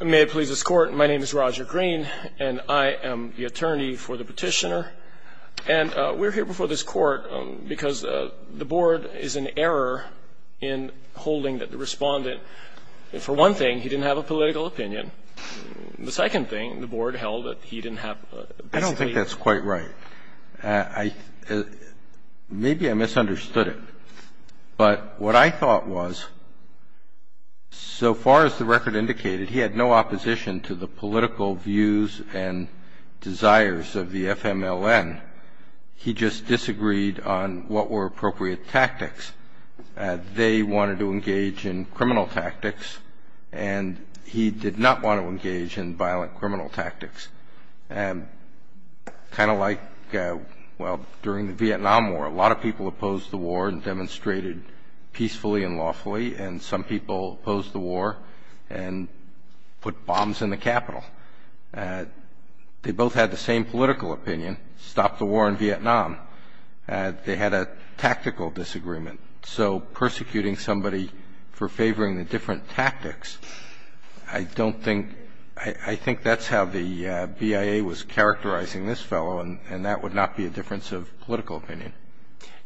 May it please this Court, my name is Roger Green, and I am the attorney for the petitioner, and we're here before this Court because the Board is in error in holding that the Respondent, for one thing, he didn't have a political opinion, and the second thing, the Board held that he didn't have a basically... He had no opposition to the political views and desires of the FMLN. He just disagreed on what were appropriate tactics. They wanted to engage in criminal tactics, and he did not want to engage in violent criminal tactics. Kind of like, well, during the Vietnam War, a lot of people opposed the war and demonstrated peacefully and lawfully, and some people opposed the war and put bombs in the Capitol. They both had the same political opinion, stop the war in Vietnam. They had a tactical disagreement. So persecuting somebody for favoring the different tactics, I don't think, I think that's how the BIA was characterizing this fellow, and that would not be a difference of political opinion.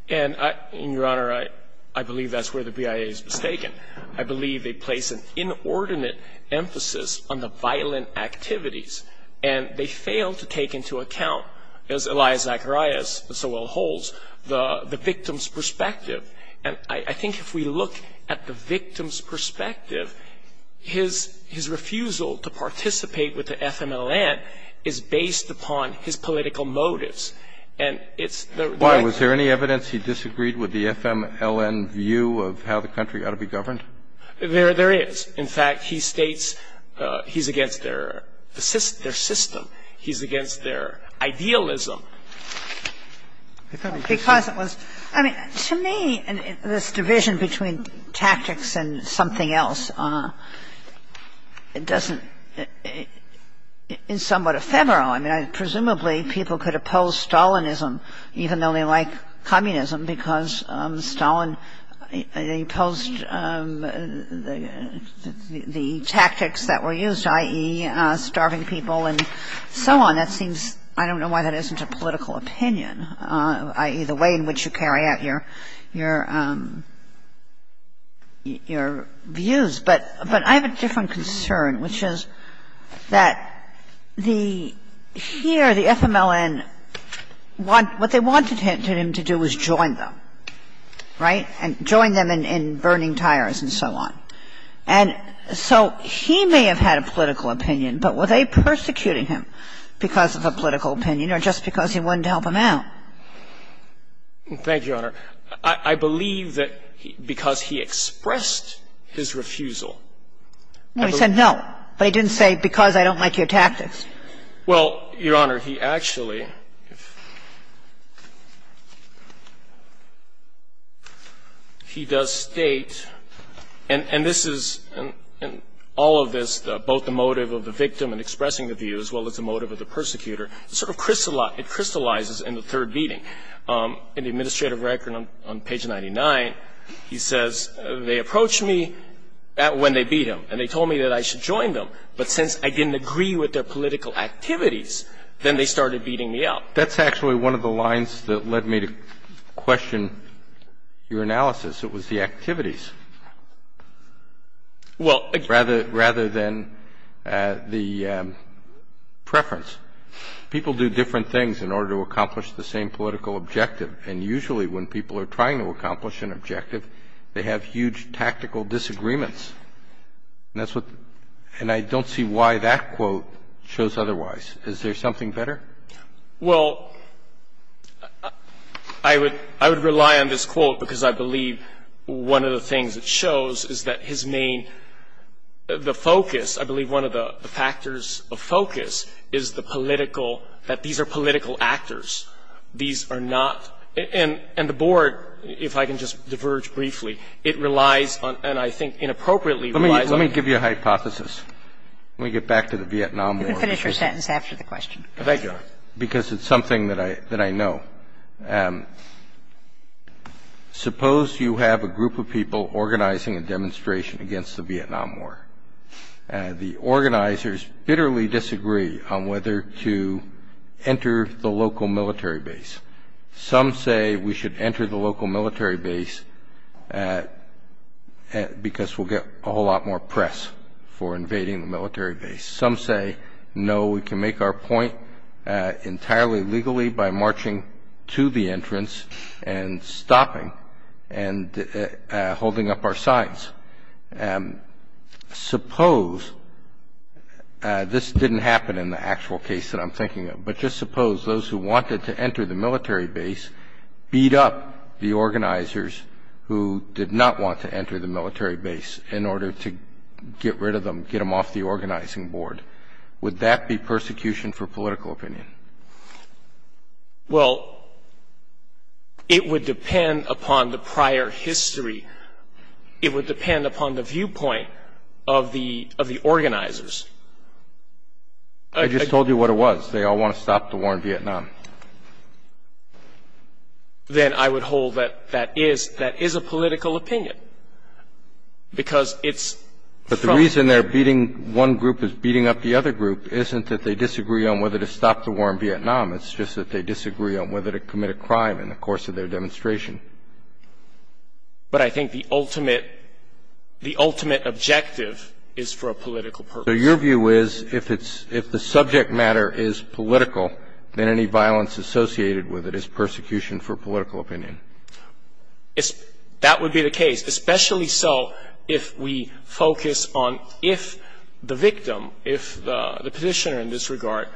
And, Your Honor, I believe that's where the BIA is mistaken. I believe they place an inordinate emphasis on the violent activities, and they fail to take into account, as Elias Zacharias so well holds, the victim's perspective. And I think if we look at the victim's perspective, his refusal to participate with the FMLN is based upon his political motives. And it's the right thing to do. Why? Was there any evidence he disagreed with the FMLN view of how the country ought to be governed? There is. In fact, he states he's against their system. He's against their idealism. Because it was – I mean, to me, this division between tactics and something else doesn't – is somewhat ephemeral. I mean, presumably, people could oppose Stalinism, even though they like communism, because Stalin imposed the tactics that were used, i.e., starving people and so on. That seems – I don't know why that isn't a political opinion, i.e., the way in which you carry out your views. But I have a different concern, which is that the – here, the FMLN, what they wanted him to do was join them, right, and join them in burning tires and so on. And so he may have had a political opinion, but were they persecuting him because of a political opinion or just because he wanted to help them out? Thank you, Your Honor. I believe that because he expressed his refusal – Well, he said no, but he didn't say because I don't like your tactics. Well, Your Honor, he actually – he does state, and this is – in all of this, both the motive of the victim in expressing the view as well as the motive of the persecutor, sort of crystallizes in the third beating. In the administrative record on page 99, he says, They approached me when they beat him, and they told me that I should join them. But since I didn't agree with their political activities, then they started beating me up. That's actually one of the lines that led me to question your analysis. It was the activities rather than the preference. People do different things in order to accomplish the same political objective, and usually when people are trying to accomplish an objective, they have huge tactical disagreements. And that's what – and I don't see why that quote shows otherwise. Is there something better? Well, I would – I would rely on this quote because I believe one of the things it shows is that his main – the focus, I believe one of the factors of focus, is the political – that these are political actors. These are not – and the Board, if I can just diverge briefly, it relies on – and I think inappropriately relies on – Let me give you a hypothesis. Let me get back to the Vietnam War. You can finish your sentence after the question. Thank you, Your Honor, because it's something that I know. Suppose you have a group of people organizing a demonstration against the Vietnam War. The organizers bitterly disagree on whether to enter the local military base. Some say we should enter the local military base because we'll get a whole lot more press for invading the military base. Some say, no, we can make our point entirely legally by marching to the entrance and stopping and holding up our signs. Suppose – this didn't happen in the actual case that I'm thinking of – but just suppose those who wanted to enter the military base beat up the organizers who did not want to enter the military base in order to get rid of them, get them off the organizing board. Would that be persecution for political opinion? Well, it would depend upon the prior history. It would depend upon the viewpoint of the organizers. I just told you what it was. They all want to stop the war in Vietnam. Then I would hold that that is a political opinion because it's – But the reason they're beating – one group is beating up the other group isn't that they disagree on whether to stop the war in Vietnam. It's just that they disagree on whether to commit a crime in the course of their demonstration. But I think the ultimate objective is for a political purpose. So your view is if the subject matter is political, then any violence associated with it is persecution for political opinion. That would be the case, especially so if we focus on if the victim, if the petitioner in this regard,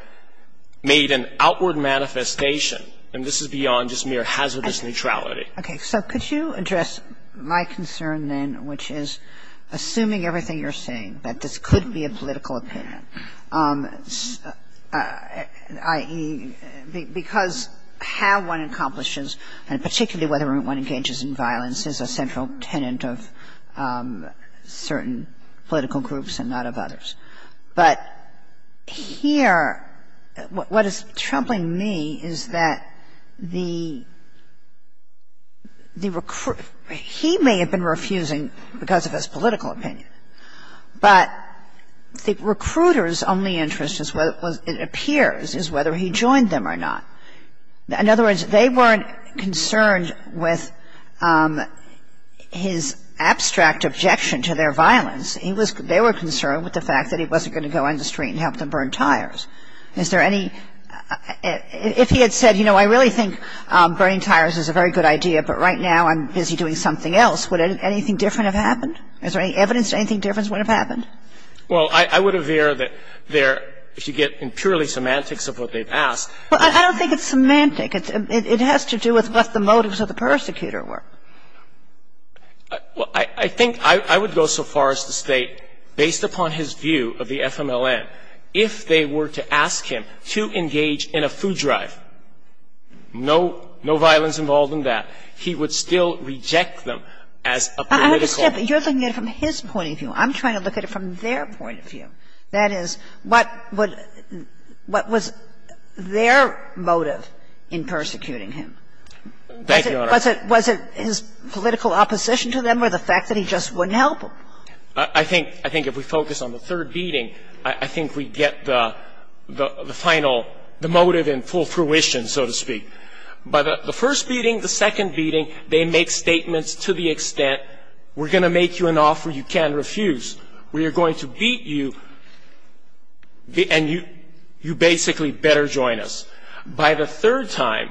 made an outward manifestation, and this is beyond just mere hazardous neutrality. Okay. So could you address my concern then, which is assuming everything you're saying that this could be a political opinion, i.e., because how one accomplishes, and particularly whether one engages in violence, is a central tenet of certain political groups and not of others. But here, what is troubling me is that the recruiter – he may have been refusing because of his political opinion, but the recruiter's only interest, it appears, is whether he joined them or not. In other words, they weren't concerned with his abstract objection to their violence. He was – they were concerned with the fact that he wasn't going to go on the street and help them burn tires. Is there any – if he had said, you know, I really think burning tires is a very good idea, but right now I'm busy doing something else, would anything different have happened? Is there any evidence that anything different would have happened? Well, I would aver that there, if you get in purely semantics of what they've asked. Well, I don't think it's semantic. It has to do with what the motives of the persecutor were. Well, I think I would go so far as to state, based upon his view of the FMLN, if they were to ask him to engage in a food drive, no violence involved in that, he would still reject them as a political group. I understand, but you're looking at it from his point of view. I'm trying to look at it from their point of view. That is, what would – what was their motive in persecuting him? Thank you, Your Honor. Was it his political opposition to them or the fact that he just wouldn't help them? I think – I think if we focus on the third beating, I think we get the final – the motive in full fruition, so to speak. By the first beating, the second beating, they make statements to the extent, we're going to make you an offer you can't refuse. We are going to beat you, and you basically better join us. By the third time,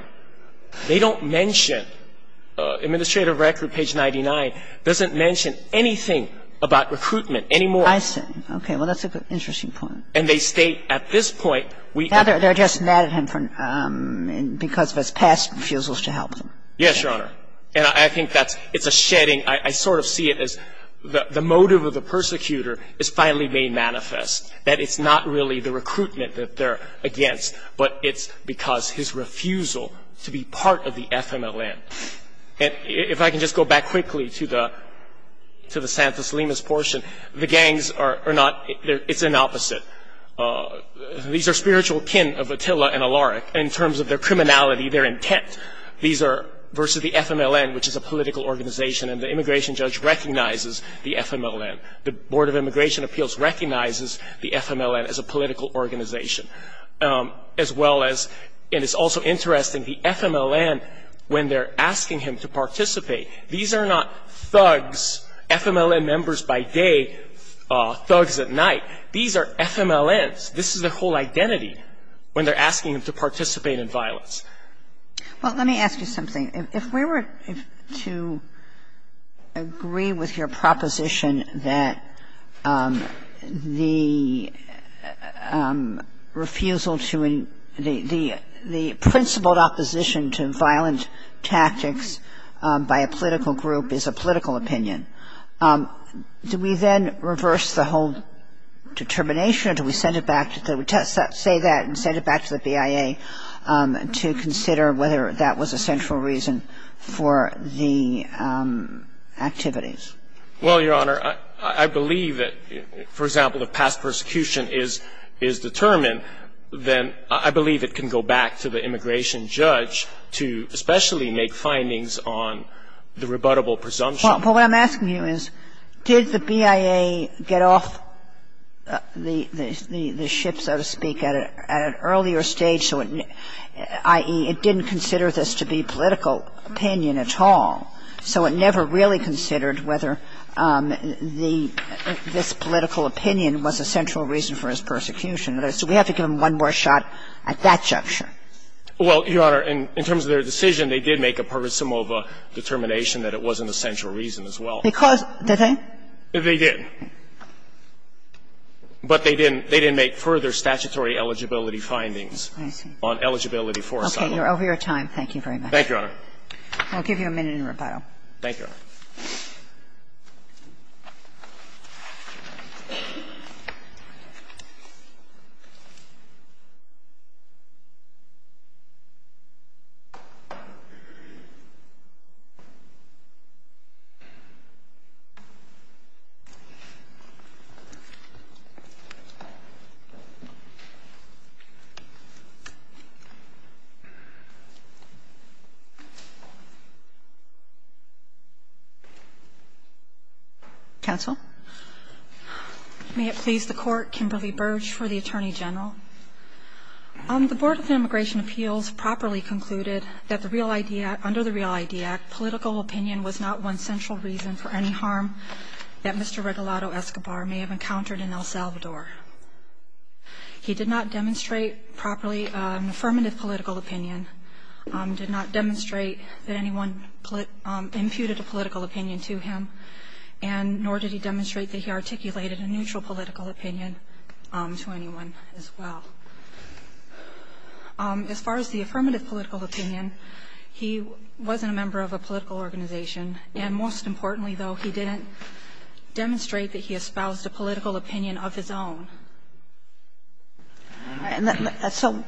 they don't mention – Administrative Record, page 99, doesn't mention anything about recruitment anymore. I see. Okay. Well, that's an interesting point. And they state at this point, we – They're just mad at him because of his past refusals to help them. Yes, Your Honor. And I think that's – it's a shedding. I sort of see it as the motive of the persecutor is finally being manifest, that it's not really the recruitment that they're against, but it's because his refusal to be part of the FMLN. And if I can just go back quickly to the – to the Santos-Limas portion, the gangs are not – it's an opposite. These are spiritual kin of Attila and Alaric in terms of their criminality, their intent. These are – versus the FMLN, which is a political organization. And the immigration judge recognizes the FMLN. The Board of Immigration Appeals recognizes the FMLN as a political organization. As well as – and it's also interesting, the FMLN, when they're asking him to participate, these are not thugs, FMLN members by day, thugs at night. These are FMLNs. This is their whole identity when they're asking him to participate in violence. Well, let me ask you something. If we were to agree with your proposition that the refusal to – the principled opposition to violent tactics by a political group is a political opinion, do we then reverse the whole determination, or do we send it back – say that and send it back to the BIA to consider whether that was a central reason for the activities? Well, Your Honor, I believe that, for example, if past persecution is determined, then I believe it can go back to the immigration judge to especially make findings on the rebuttable presumption. Well, what I'm asking you is, did the BIA get off the ship, so to speak, at an earlier stage, so it – i.e., it didn't consider this to be political opinion at all, so it never really considered whether the – this political opinion was a central reason for his persecution, so we have to give him one more shot at that juncture? Well, Your Honor, in terms of their decision, they did make a parisimova determination that it wasn't a central reason as well. Because – did they? They did. But they didn't – they didn't make further statutory eligibility findings on eligibility for asylum. Okay. You're over your time. Thank you very much. Thank you, Your Honor. I'll give you a minute in rebuttal. Thank you, Your Honor. Counsel. May it please the Court, Kimberly Burge for the Attorney General. The Board of Immigration Appeals properly concluded that the real idea – under the Real ID Act, political opinion was not one central reason for any harm that Mr. Regalado Escobar may have encountered in El Salvador. He did not demonstrate properly an affirmative political opinion, did not demonstrate that anyone imputed a political opinion to him, and nor did he demonstrate that he articulated a neutral political opinion to anyone as well. As far as the affirmative political opinion, he wasn't a member of a political organization, and most importantly, though, he didn't demonstrate that he espoused a political opinion of his own. And so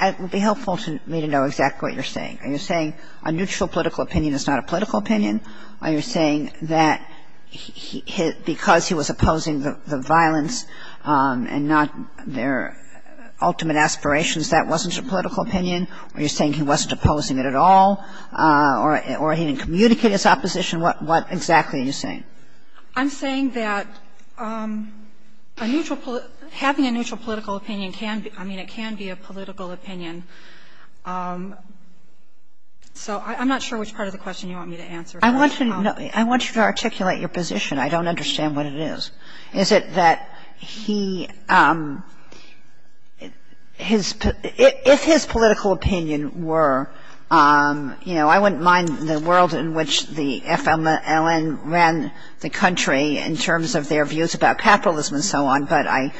it would be helpful to me to know exactly what you're saying. Are you saying a neutral political opinion is not a political opinion? Are you saying that because he was opposing the violence and not their ultimate aspirations, that wasn't a political opinion? Are you saying he wasn't opposing it at all or he didn't communicate his opposition? What exactly are you saying? I'm saying that a neutral – having a neutral political opinion can be – I mean, it can be a political opinion. So I'm not sure which part of the question you want me to answer. I want you to articulate your position. I don't understand what it is. Is it that he – if his political opinion were, you know, I wouldn't mind the world in which the FLN ran the country in terms of their views about capitalism and so on, but I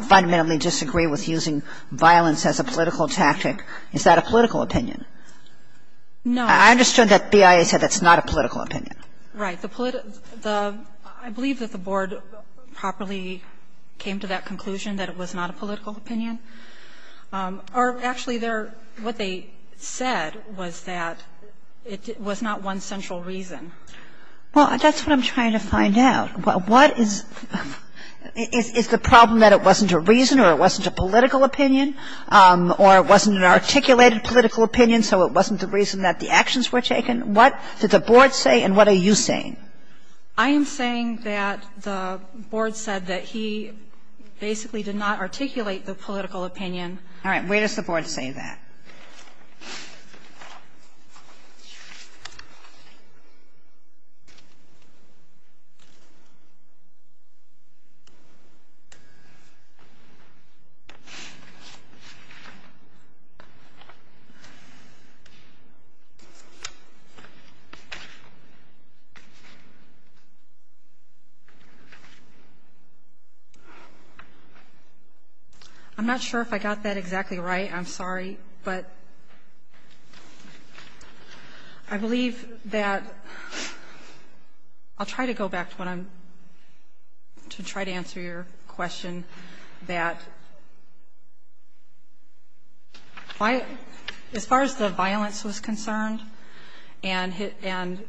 fundamentally disagree with using violence as a political tactic, is that a political opinion? No. I understood that BIA said that's not a political opinion. Right. The – I believe that the Board properly came to that conclusion that it was not a political opinion. Or actually, their – what they said was that it was not one central reason. Well, that's what I'm trying to find out. What is – is the problem that it wasn't a reason or it wasn't a political opinion or it wasn't an articulated political opinion, so it wasn't the reason that the actions were taken? What did the Board say and what are you saying? I am saying that the Board said that he basically did not articulate the political opinion. All right. Where does the Board say that? I'm not sure if I got that exactly right. I'm sorry, but I believe that – I'll try to go back to what I'm – to try to answer your question, that as far as the violence was concerned and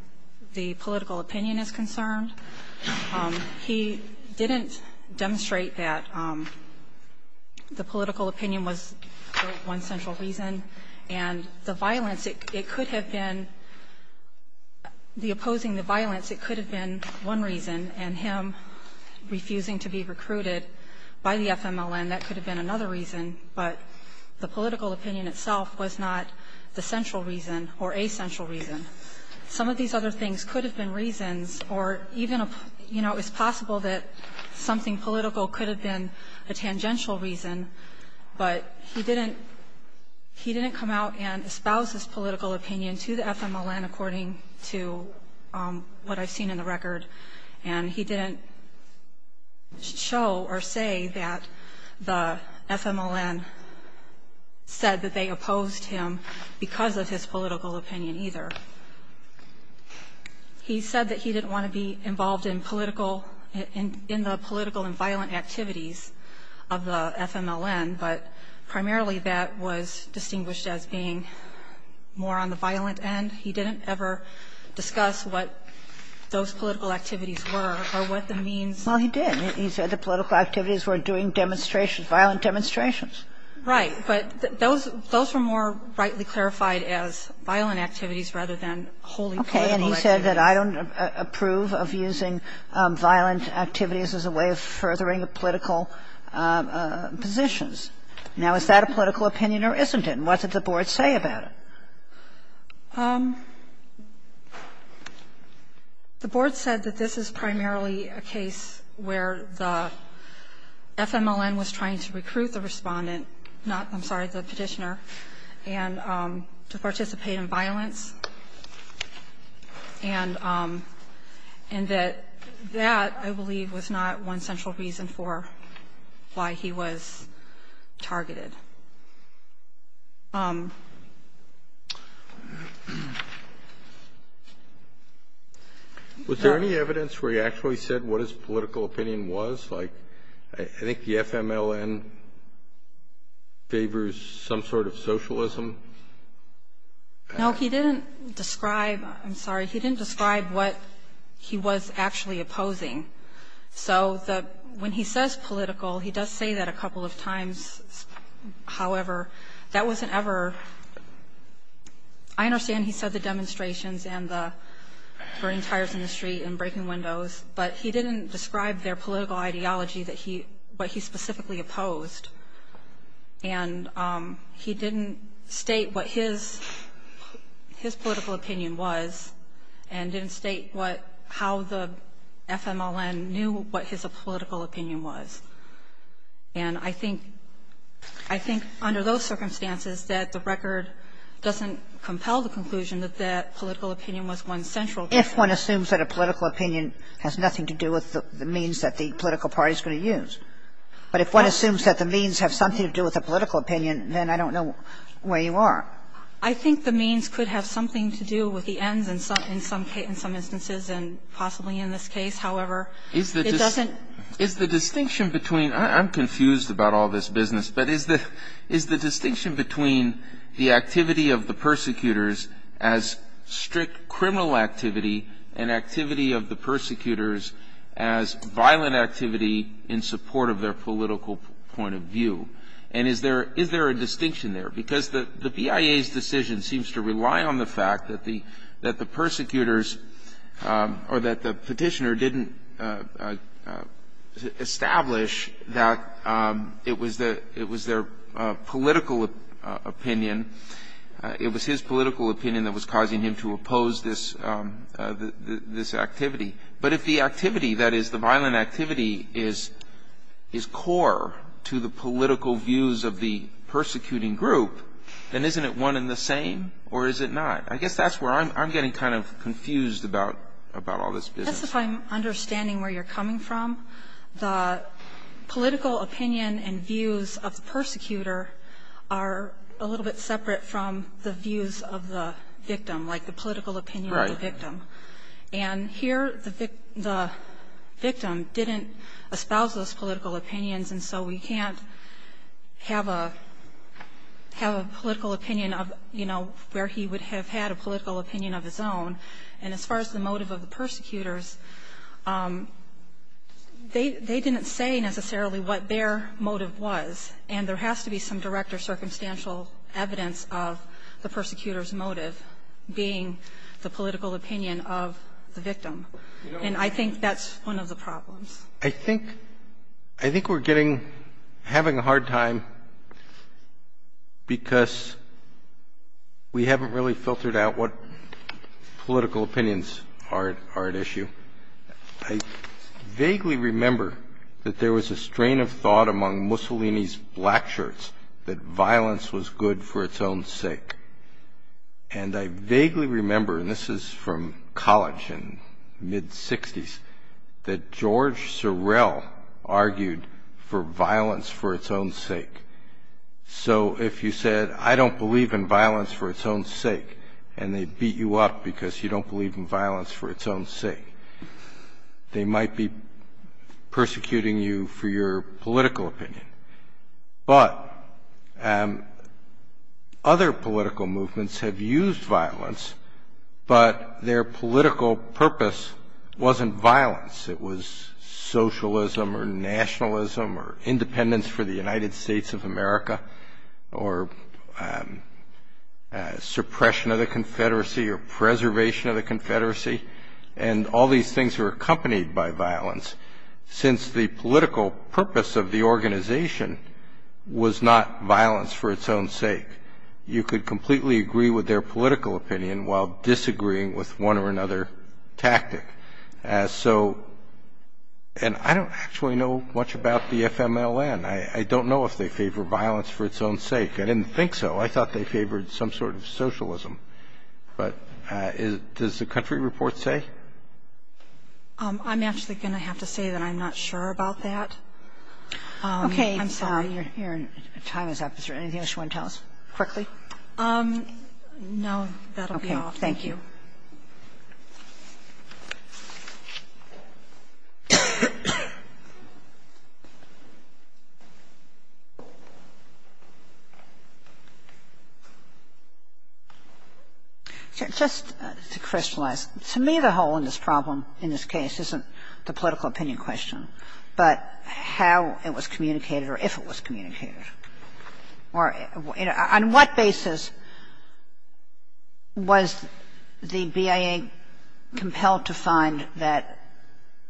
the political opinion is concerned, he didn't demonstrate that the political opinion was the one central reason. And the violence, it could have been – the opposing the violence, it could have been one reason. And him refusing to be recruited by the FMLN, that could have been another reason. But the political opinion itself was not the central reason or a central reason. Some of these other things could have been reasons or even – you know, it's possible that something political could have been a tangential reason, but he didn't come out and espouse his political opinion to the FMLN according to what I've seen in the record. And he didn't show or say that the FMLN said that they opposed him because of his political opinion. He said that he didn't want to be involved in political – in the political and violent activities of the FMLN, but primarily that was distinguished as being more on the violent end. He didn't ever discuss what those political activities were or what the means – Well, he did. He said the political activities were doing demonstrations, violent demonstrations. Right. But those were more rightly clarified as violent activities rather than wholly political activities. Okay. And he said that I don't approve of using violent activities as a way of furthering political positions. Now, is that a political opinion or isn't it? And what did the Board say about it? The Board said that this is primarily a case where the FMLN was trying to recruit the respondent – I'm sorry, the petitioner – to participate in violence and that that, I believe, was not one central reason for why he was targeted. Was there any evidence where he actually said what his political opinion was? Like, I think the FMLN favors some sort of socialism. No, he didn't describe – I'm sorry – he didn't describe what he was actually opposing. So when he says political, he does say that a couple of times. However, that wasn't ever – I understand he said the demonstrations and the burning tires in the street and breaking windows, but he didn't describe their political ideology that he – what he specifically opposed. And he didn't state what his political opinion was and didn't state what – how the FMLN knew what his political opinion was. And I think under those circumstances that the record doesn't compel the conclusion that that political opinion was one central reason. If one assumes that a political opinion has nothing to do with the means that the political party is going to use. But if one assumes that the means have something to do with a political opinion, then I don't know where you are. I think the means could have something to do with the ends in some instances, and possibly in this case. However, it doesn't – Is the distinction between – I'm confused about all this business, but is the distinction between the activity of the persecutors as strict criminal activity and activity of the persecutors as violent activity in support of their political point of view? And is there – is there a distinction there? Because the BIA's decision seems to rely on the fact that the – that the persecutors or that the petitioner didn't establish that it was the – it was his political opinion that was causing him to oppose this activity. But if the activity, that is, the violent activity is core to the political views of the persecuting group, then isn't it one and the same, or is it not? I guess that's where I'm getting kind of confused about all this business. I guess if I'm understanding where you're coming from, the political opinion and views of the persecutor are a little bit separate from the views of the victim, like the political opinion of the victim. Right. And here the victim didn't espouse those political opinions, and so we can't have a – have a political opinion of, you know, where he would have had a political opinion of his own. And as far as the motive of the persecutors, they didn't say necessarily what their motive was, and there has to be some direct or circumstantial evidence of the persecutor's motive being the political opinion of the victim. And I think that's one of the problems. I think – I think we're getting – having a hard time because we haven't really filtered out what political opinions are at issue. I vaguely remember that there was a strain of thought among Mussolini's blackshirts that violence was good for its own sake. And I vaguely remember, and this is from college in mid-60s, that George Sorrell argued for violence for its own sake. So if you said, I don't believe in violence for its own sake, and they beat you up because you don't believe in violence for its own sake, they might be persecuting you for your political opinion. But other political movements have used violence, but their political purpose wasn't violence. It was socialism or nationalism or independence for the United States of America or suppression of the Confederacy or preservation of the Confederacy. And all these things were accompanied by violence, since the political purpose of the organization was not violence for its own sake. You could completely agree with their political opinion while disagreeing with one or another tactic. And so – and I don't actually know much about the FMLN. I don't know if they favor violence for its own sake. I didn't think so. I thought they favored some sort of socialism. But does the country report say? I'm actually going to have to say that I'm not sure about that. Okay. I'm sorry. Your time is up. Is there anything else you want to tell us quickly? No. That'll be all. Thank you. Just to crystallize. To me, the hole in this problem in this case isn't the political opinion question, but how it was communicated or if it was communicated. On what basis was the BIA compelled to find that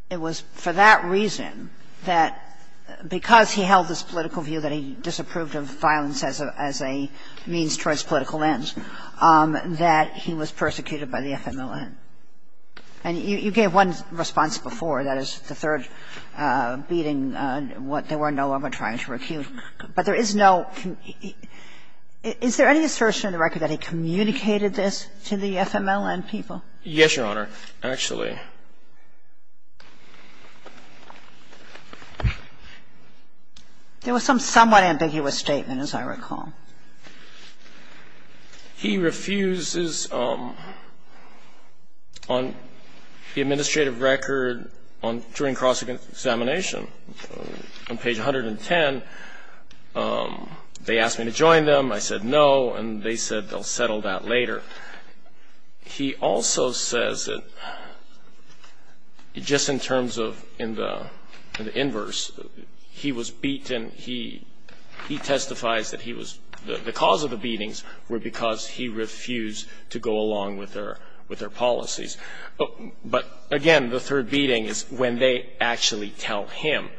it was for that reason that because he held this political view that he disapproved of violence as a means towards political ends that he was persecuted by the FMLN? And you gave one response before, that is, the third beating, what they were no longer trying to recuse. But there is no – is there any assertion in the record that he communicated this to the FMLN people? Yes, Your Honor, actually. There was some somewhat ambiguous statement, as I recall. He refuses on the administrative record during cross-examination. On page 110, they asked me to join them. I said no, and they said they'll settle that later. He also says that just in terms of in the inverse, he was beaten. He testifies that the cause of the beatings were because he refused to go along with their policies. But again, the third beating is when they actually tell him,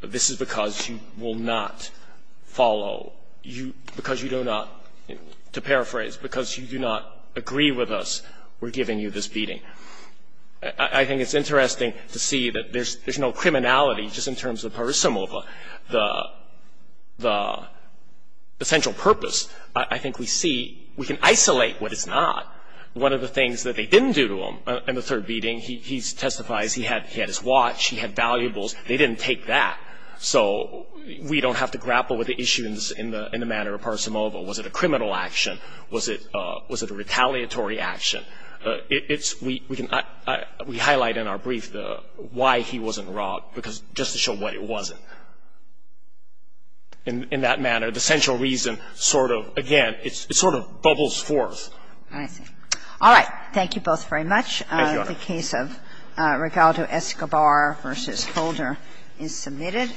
this is because you will not follow, because you do not – to paraphrase, because you do not agree with us, we're giving you this beating. I think it's interesting to see that there's no criminality just in terms of Parisimova, the central purpose. I think we see – we can isolate what it's not. One of the things that they didn't do to him in the third beating, he testifies he had his watch, he had valuables. They didn't take that. So we don't have to grapple with the issues in the manner of Parisimova. Was it a criminal action? Was it a retaliatory action? We highlight in our brief why he wasn't robbed, just to show what it wasn't. In that manner, the central reason sort of, again, it sort of bubbles forth. I see. All right. Thank you both very much. Thank you, Your Honor. The case of Rigaldo Escobar v. Holder is submitted.